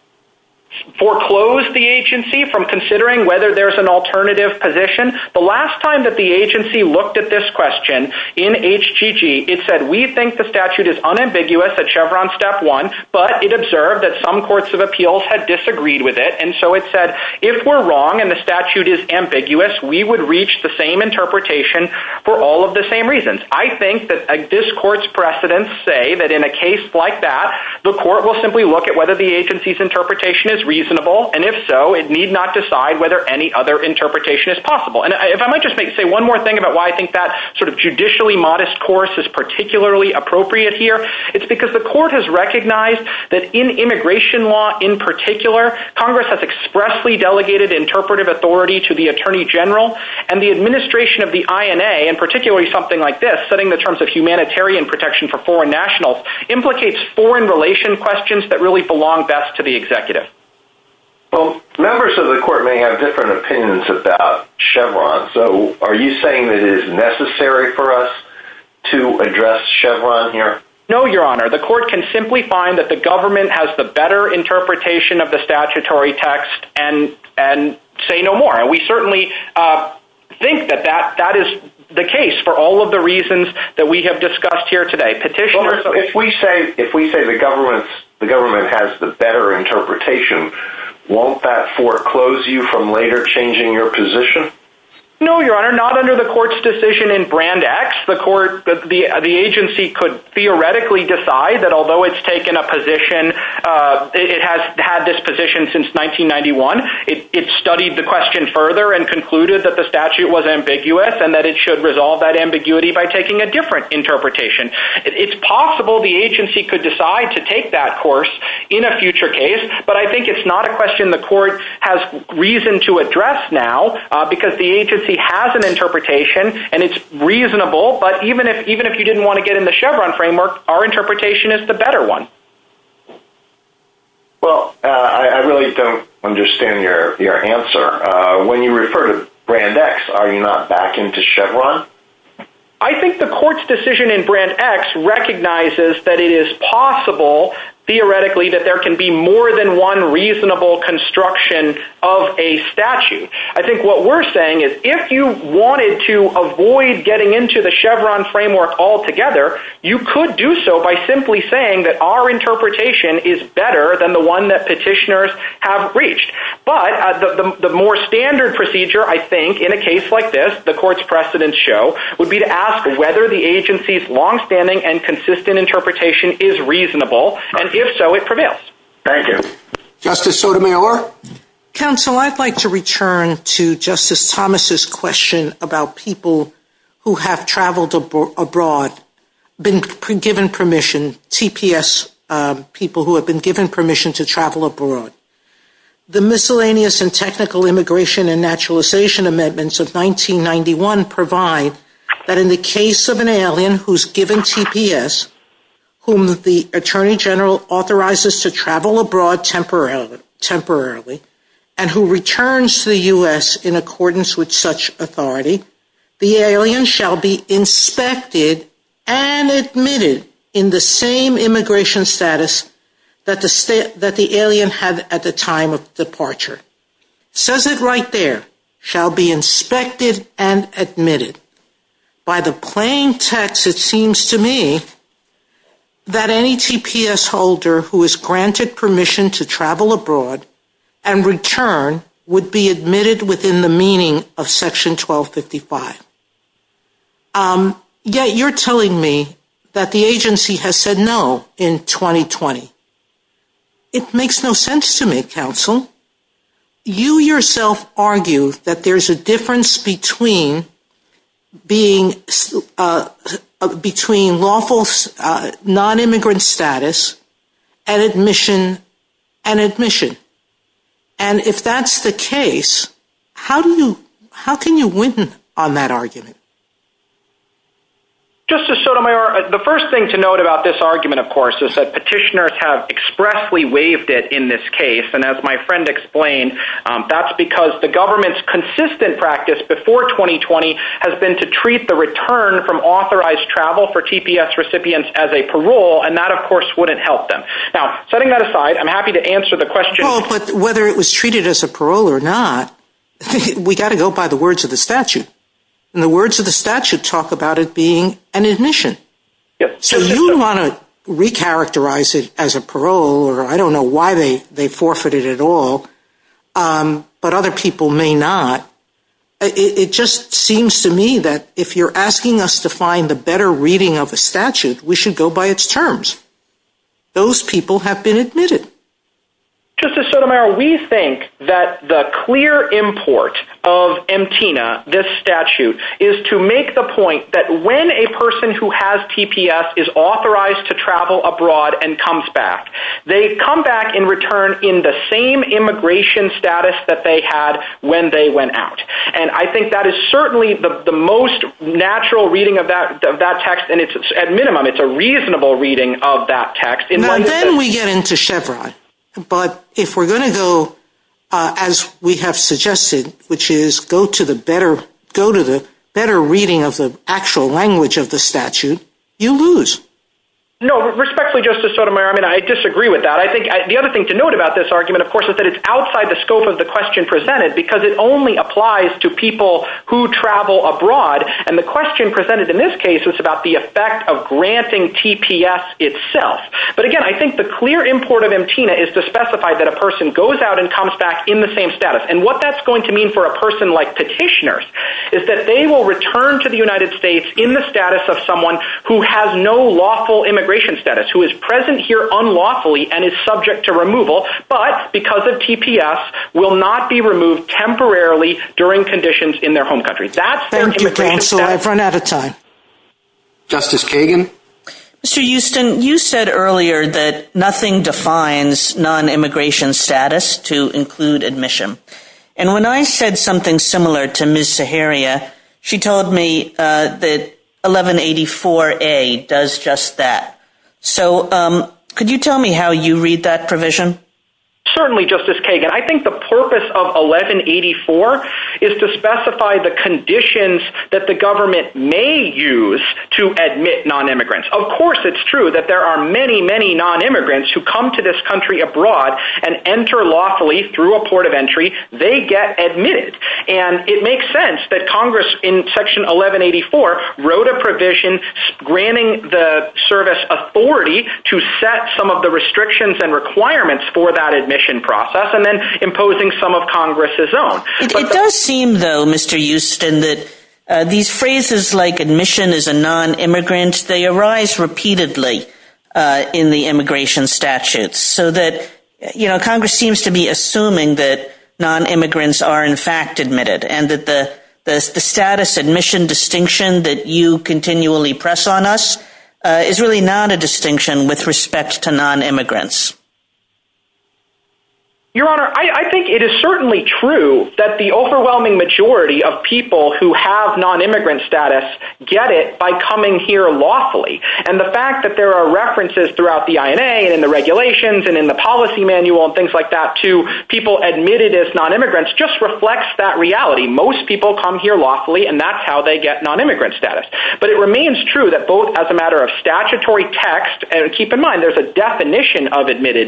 foreclose the agency from considering whether there's an alternative position. The last time that the agency looked at this question in HGG, it said, we think the statute is unambiguous at Chevron step one, but it observed that some courts of appeals had disagreed with it. And so it said, if we're wrong and the statute is ambiguous, we would reach the same interpretation for all of the same reasons. I think that this court's precedents say that in a case like that, the court will simply look at whether the agency's interpretation is reasonable. And if so, it need not decide whether any other interpretation is possible. And if I might just make, say one more thing about why I think that sort of judicially modest course is particularly appropriate here, it's because the court has recognized that in immigration law in particular, Congress has expressly delegated interpretive authority to the Attorney General and the administration of the INA, and particularly something like this, setting the terms of humanitarian protection for foreign nationals, implicates foreign relation questions that belong best to the executive. Well, members of the court may have different opinions about Chevron. So are you saying that it is necessary for us to address Chevron here? No, your honor, the court can simply find that the government has the better interpretation of the statutory text and say no more. And we certainly think that that is the case for all of the reasons that we have the better interpretation. Won't that foreclose you from later changing your position? No, your honor, not under the court's decision in brand X, the court, the agency could theoretically decide that although it's taken a position, it has had this position since 1991. It studied the question further and concluded that the statute was ambiguous and that it should resolve that ambiguity by taking a different interpretation. It's possible the agency could decide to take that course in a future case, but I think it's not a question the court has reason to address now because the agency has an interpretation and it's reasonable. But even if, even if you didn't want to get in the Chevron framework, our interpretation is the better one. Well, I really don't understand your answer. When you refer to brand X, are you not backing to Chevron? I think the court's decision in brand X recognizes that it is possible theoretically that there can be more than one reasonable construction of a statute. I think what we're saying is if you wanted to avoid getting into the Chevron framework altogether, you could do so by simply saying that our interpretation is better than the one that petitioners have reached. But the more standard procedure, I think in a case like this, the court's precedents show, would be to ask whether the agency's longstanding and consistent interpretation is reasonable, and if so, it prevails. Thank you. Justice Sotomayor. Counsel, I'd like to return to Justice Thomas's question about people who have traveled abroad, been given permission, TPS people who have been given permission to travel abroad. The miscellaneous and technical immigration and naturalization amendments of 1991 provide that in the case of an alien who's given TPS, whom the Attorney General authorizes to travel abroad temporarily, and who returns to the U.S. in accordance with such authority, the alien shall be inspected and admitted in the same immigration status that the alien had at the time of departure. Says it right there, shall be inspected and admitted. By the plain text, it seems to me that any TPS holder who is granted permission to travel abroad and return would be admitted within the meaning of Section 1255. Yet, you're telling me that the agency has said no in 2020. It makes no sense to me, counsel. You yourself argue that there's a difference between lawful non-immigrant status and admission and if that's the case, how can you win on that argument? Justice Sotomayor, the first thing to note about this argument, of course, is that petitioners have expressly waived it in this case. And as my friend explained, that's because the government's consistent practice before 2020 has been to treat the return from authorized travel for TPS I'm happy to answer the question. Well, but whether it was treated as a parole or not, we got to go by the words of the statute. And the words of the statute talk about it being an admission. So you want to recharacterize it as a parole or I don't know why they forfeited at all, but other people may not. It just seems to me that if you're asking us to find the better reading of a statute, we should go by its terms. Those people have been admitted. Justice Sotomayor, we think that the clear import of MTNA, this statute, is to make the point that when a person who has TPS is authorized to travel abroad and comes back, they come back in return in the same immigration status that they had when they went out. And I think that is certainly the reasonable reading of that text. And then we get into Chevron. But if we're going to go as we have suggested, which is go to the better reading of the actual language of the statute, you lose. No, respectfully, Justice Sotomayor, I mean, I disagree with that. I think the other thing to note about this argument, of course, is that it's outside the scope of the question presented, because it only applies to people who travel abroad. And the question presented in this case is about the effect of granting TPS itself. But again, I think the clear import of MTNA is to specify that a person goes out and comes back in the same status. And what that's going to mean for a person like petitioners is that they will return to the United States in the status of someone who has no lawful immigration status, who is present here unlawfully and is subject to removal, but because of TPS, will not be removed temporarily during conditions in their home country. That's their immigration status. I've run out of time. Justice Kagan. Mr. Houston, you said earlier that nothing defines non-immigration status to include admission. And when I said something similar to Ms. Saharia, she told me that 1184A does just that. So could you tell me how you read that provision? Certainly, Justice Kagan. I think the purpose of 1184 is to specify the conditions that the government may use to admit non-immigrants. Of course, it's true that there are many, many non-immigrants who come to this country abroad and enter lawfully through a port of entry. They get admitted. And it makes sense that Congress in Section 1184 wrote a provision granting the service authority to set some of the restrictions and requirements for that admission process and then imposing some of Congress's own. It does seem, though, Mr. Houston, that these phrases like admission is a non-immigrant, they arise repeatedly in the immigration statutes so that Congress seems to be assuming that non-immigrants are in fact admitted and that the status admission distinction that you continually press on us is really not a distinction with respect to non-immigrants. Your Honor, I think it is certainly true that the overwhelming majority of people who have non-immigrant status get it by coming here lawfully. And the fact that there are references throughout the INA and in the regulations and in the policy manual and things like that to people admitted as non-immigrants just reflects that reality. Most people come here lawfully, and that's how they get non-immigrant status. But it remains true that both as a matter of statutory text, and keep in mind, there's a definition of a non-immigrant status,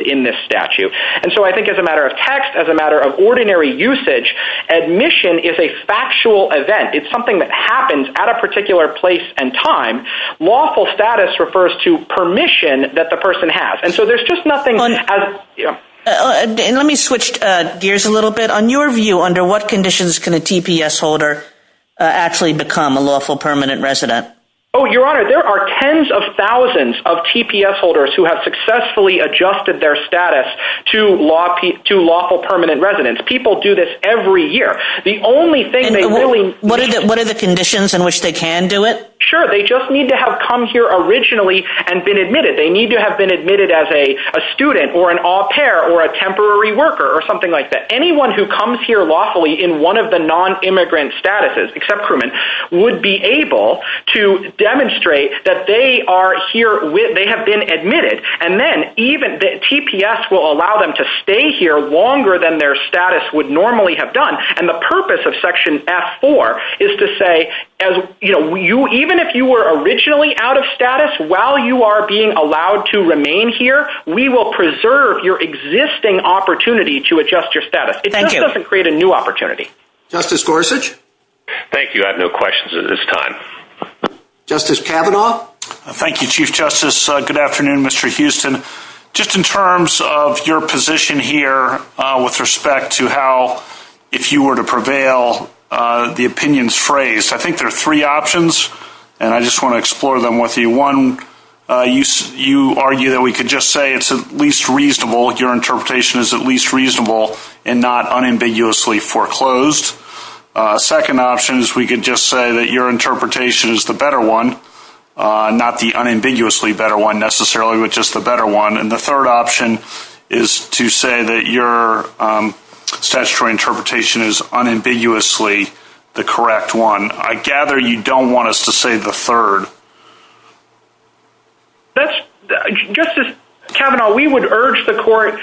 in this statute. And so I think as a matter of text, as a matter of ordinary usage, admission is a factual event. It's something that happens at a particular place and time. Lawful status refers to permission that the person has. And so there's just nothing... Let me switch gears a little bit. On your view, under what conditions can a TPS holder actually become a lawful permanent resident? Oh, Your Honor, there are tens of thousands of TPS holders who have successfully adjusted their status to lawful permanent residence. People do this every year. The only thing they really... And what are the conditions in which they can do it? Sure. They just need to have come here originally and been admitted. They need to have been admitted as a student or an au pair or a temporary worker or something like that. Anyone who comes here lawfully in one of the non-immigrant statuses, except crewmen, would be able to demonstrate that they are here, they have been admitted. And then even the TPS will allow them to stay here longer than their status would normally have done. And the purpose of Section F-4 is to say, even if you were originally out of status, while you are being allowed to remain here, we will preserve your existing opportunity to adjust your status. It is a good question. Justice Kavanaugh? Thank you, Chief Justice. Good afternoon, Mr. Houston. Just in terms of your position here with respect to how, if you were to prevail, the opinions phrased, I think there are three options, and I just want to explore them with you. One, you argue that we could just say it's at least reasonable, your interpretation is at least reasonable. The second option is to say that your interpretation is the better one, not the unambiguously better one necessarily, but just the better one. And the third option is to say that your statutory interpretation is unambiguously the correct one. I gather you don't want us to say the third. Justice Kavanaugh, we would urge the Court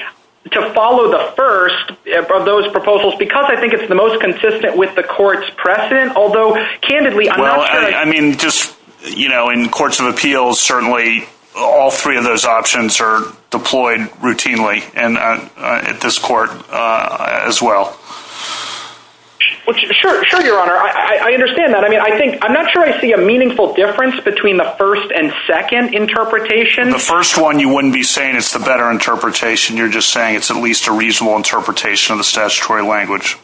to follow the first of those proposals because I mean, just, you know, in courts of appeals, certainly all three of those options are deployed routinely, and at this Court as well. Sure, Your Honor, I understand that. I mean, I think, I'm not sure I see a meaningful difference between the first and second interpretation. The first one, you wouldn't be saying it's the better interpretation, you're just saying it's at least a reasonable interpretation of the statutory language.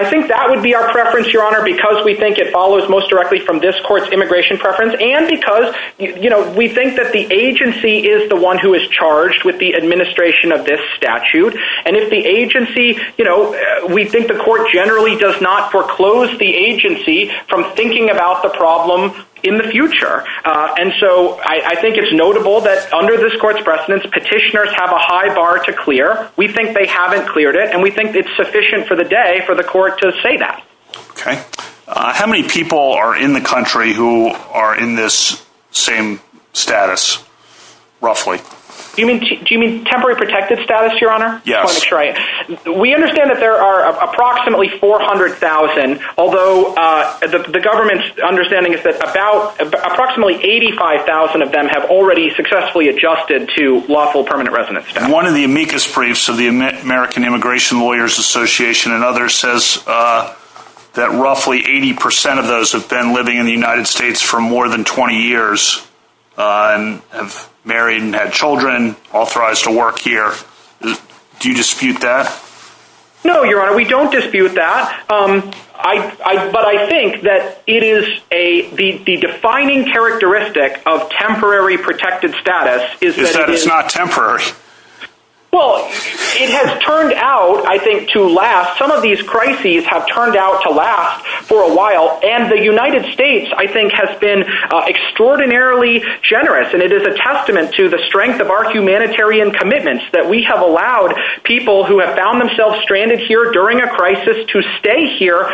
I think that would be our preference, Your Honor, because we think it follows most directly from this Court's immigration preference, and because, you know, we think that the agency is the one who is charged with the administration of this statute. And if the agency, you know, we think the Court generally does not foreclose the agency from thinking about the problem in the future. And so I think it's notable that under this Court's precedence, petitioners have a high bar to clear. We think they haven't cleared it, and we think it's sufficient for the day for the Court to say that. Okay. How many people are in the country who are in this same status, roughly? Do you mean temporary protected status, Your Honor? Yes. We understand that there are approximately 400,000, although the government's understanding is that about, approximately 85,000 of them have already successfully adjusted to lawful permanent residence status. And one of the amicus briefs of the American Immigration Lawyers Association and others says that roughly 80% of those have been living in the United States for more than 20 years, and have married and had children, authorized to work here. Do you dispute that? No, Your Honor, we don't dispute that. But I think it is the defining characteristic of temporary protected status. Is that it's not temporary? Well, it has turned out, I think, to last. Some of these crises have turned out to last for a while, and the United States, I think, has been extraordinarily generous. And it is a testament to the strength of our humanitarian commitments, that we have allowed people who have been here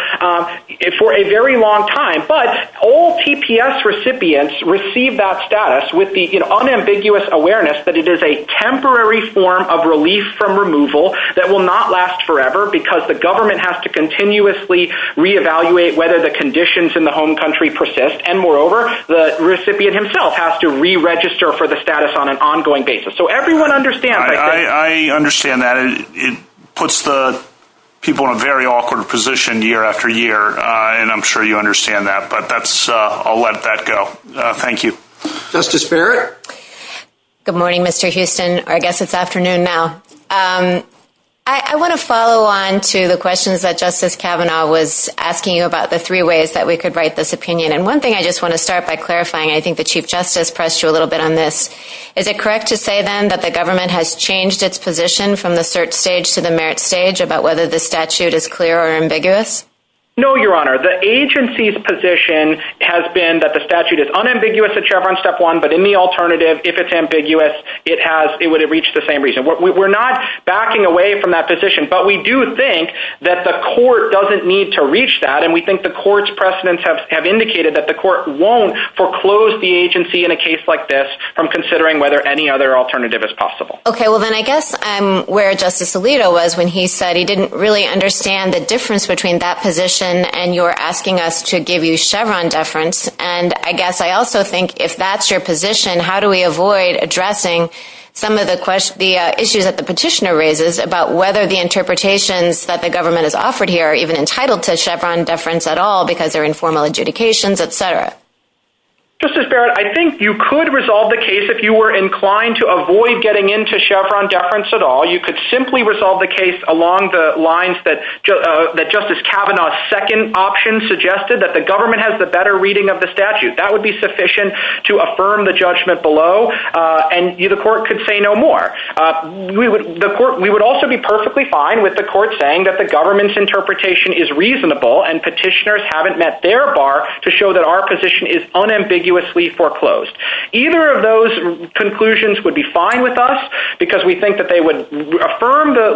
for a very long time, but all TPS recipients receive that status with the unambiguous awareness that it is a temporary form of relief from removal that will not last forever, because the government has to continuously re-evaluate whether the conditions in the home country persist. And moreover, the recipient himself has to re-register for the status on an ongoing basis. So everyone understands that. I understand that. It puts the people in a very awkward position year after year, and I'm sure you understand that. But I'll let that go. Thank you. Justice Barrett. Good morning, Mr. Houston, or I guess it's afternoon now. I want to follow on to the questions that Justice Kavanaugh was asking you about the three ways that we could write this opinion. And one thing I just want to start by clarifying, I think the Chief Justice pressed you a little bit on this. Is it correct to say, then, that the government has changed its position from the search stage to the merit stage about whether the statute is clear or ambiguous? No, Your Honor. The agency's position has been that the statute is unambiguous at Chevron Step One, but in the alternative, if it's ambiguous, it would have reached the same reason. We're not backing away from that position, but we do think that the court doesn't need to reach that. And we think the court's precedents have indicated that the court won't foreclose the agency in a case like this from considering whether any other alternative is possible. Okay, well, then I guess I'm where Justice Alito was when he said he didn't really understand the difference between that position and you're asking us to give you Chevron deference. And I guess I also think if that's your position, how do we avoid addressing some of the issues that the petitioner raises about whether the interpretations that the government has offered here are even entitled to Chevron deference at all because they're informal adjudications, et cetera? Justice Barrett, I think you could resolve the case if you were at all. You could simply resolve the case along the lines that Justice Kavanaugh's second option suggested, that the government has the better reading of the statute. That would be sufficient to affirm the judgment below and the court could say no more. We would also be perfectly fine with the court saying that the government's interpretation is reasonable and petitioners haven't met their bar to show that our position is unambiguously foreclosed. Either of those conclusions would be fine with us because we think that they would affirm the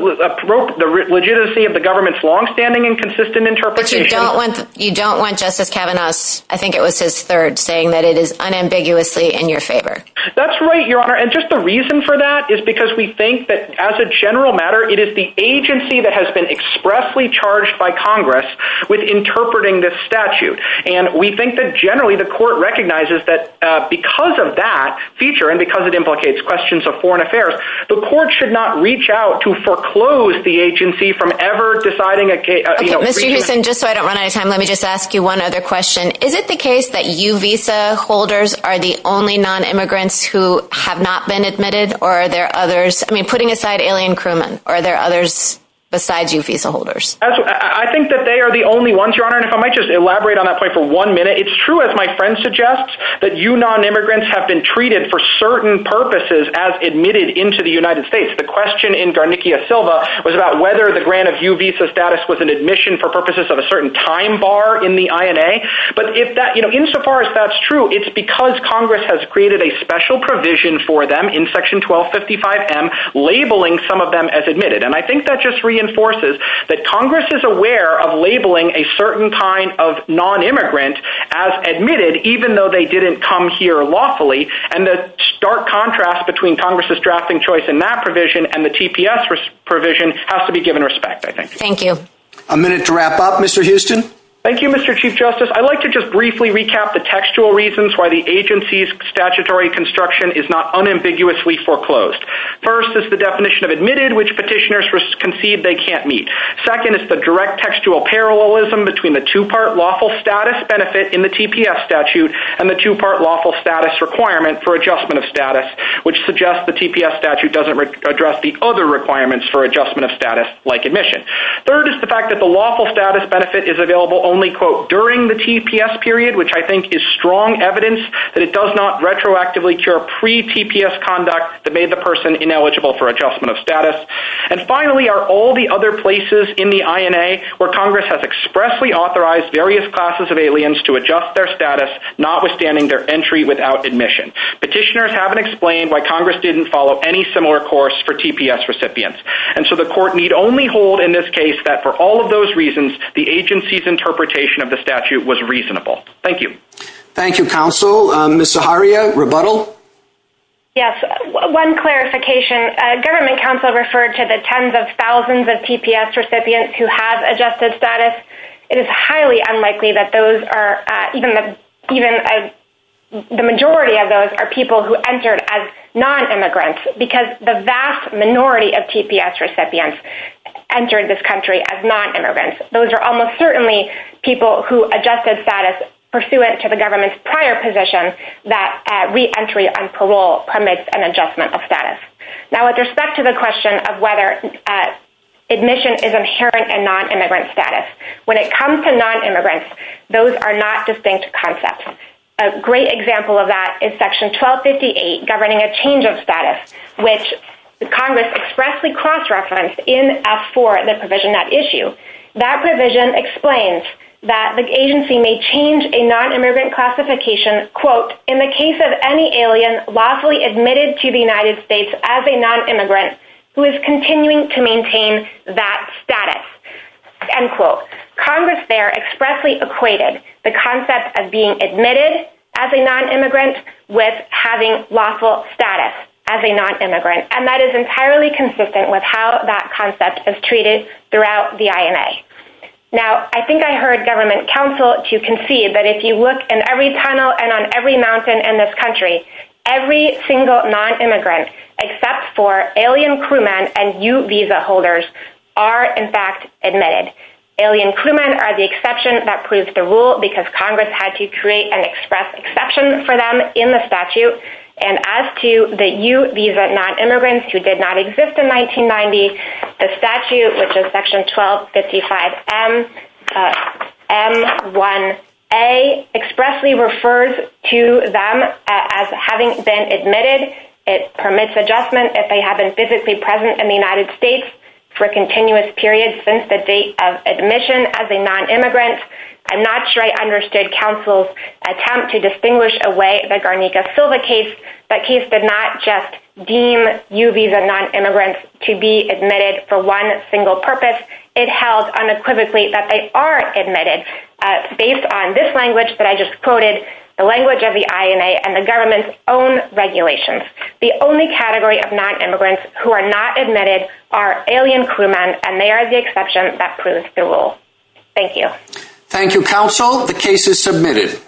legitimacy of the government's longstanding and consistent interpretation. But you don't want Justice Kavanaugh's, I think it was his third, saying that it is unambiguously in your favor. That's right, Your Honor. And just the reason for that is because we think that as a general matter, it is the agency that has been expressly charged by Congress with interpreting this statute. And we think that generally the court recognizes that because of that feature and because it implicates questions of foreign affairs, the court should not reach out to foreclose the agency from ever deciding a case. Okay, Mr. Hewson, just so I don't run out of time, let me just ask you one other question. Is it the case that you visa holders are the only non-immigrants who have not been admitted? Or are there others? I mean, putting aside Alien Crewman, are there others besides you visa holders? I think that they are the only ones, Your Honor. And if I might just elaborate on that point for one minute, it's true, as my friend suggests, that you non-immigrants have been treated for certain purposes as admitted into the United States. The question in Guarnicchia Silva was about whether the grant of U visa status was an admission for purposes of a certain time bar in the INA. But if that, you know, insofar as that's true, it's because Congress has created a special provision for them in Section 1255M, labeling some of them as admitted. And I think that just as admitted, even though they didn't come here lawfully, and the stark contrast between Congress' drafting choice in that provision and the TPS provision has to be given respect, I think. Thank you. A minute to wrap up, Mr. Houston. Thank you, Mr. Chief Justice. I'd like to just briefly recap the textual reasons why the agency's statutory construction is not unambiguously foreclosed. First is the definition of admitted, which petitioners concede they can't meet. Second is the direct textual parallelism between the two-part lawful status benefit in the TPS statute and the two-part lawful status requirement for adjustment of status, which suggests the TPS statute doesn't address the other requirements for adjustment of status like admission. Third is the fact that the lawful status benefit is available only, quote, during the TPS period, which I think is strong evidence that it does not retroactively cure pre-TPS conduct that made the person ineligible for adjustment of status. And finally are all the other places in the INA where Congress has expressly authorized various classes of aliens to adjust their status, notwithstanding their entry without admission. Petitioners haven't explained why Congress didn't follow any similar course for TPS recipients. And so the court need only hold in this case that for all of those reasons, the agency's interpretation of the statute was reasonable. Thank you. Thank you, counsel. Ms. Zaharia, rebuttal? Yes. One clarification. Government counsel referred to the tens of thousands of TPS recipients who have adjusted status. It is highly unlikely that those are, even the majority of those are people who entered as non-immigrants because the vast minority of TPS recipients entered this country as non-immigrants. Those are almost certainly people who adjusted status pursuant to the government's prior position that re-entry on parole permits an adjustment of status. Now with respect to the question of whether admission is inherent in non-immigrant status, when it comes to non-immigrants, those are not distinct concepts. A great example of that is section 1258 governing a change of status, which Congress expressly cross-referenced in F4, the provision at issue. That provision explains that the agency may change a non-immigrant classification, quote, in the case of any alien lawfully admitted to the United States as a non-immigrant who is continuing to maintain that status, end quote. Congress there expressly equated the concept of being admitted as a non-immigrant with having lawful status as a non-immigrant, and that is entirely consistent with how that concept is treated throughout the INA. Now I think I heard government counsel to concede that if you look in every tunnel and on every mountain in this country, every single non-immigrant except for alien crewmen and U visa holders are in fact admitted. Alien crewmen are the exception that proves the rule because non-immigrants who did not exist in 1990, the statute which is section 1255 M1A expressly refers to them as having been admitted. It permits adjustment if they have been physically present in the United States for continuous periods since the date of admission as a non-immigrant. I'm not sure I understood counsel's attempt to distinguish away the Garnica-Silva case, that case did not just deem U visa non-immigrants to be admitted for one single purpose, it held unequivocally that they are admitted based on this language that I just quoted, the language of the INA and the government's own regulations. The only category of non-immigrants who are not admitted are alien crewmen and they are the exception that proves the rule. Thank you. Thank you counsel, the case is submitted.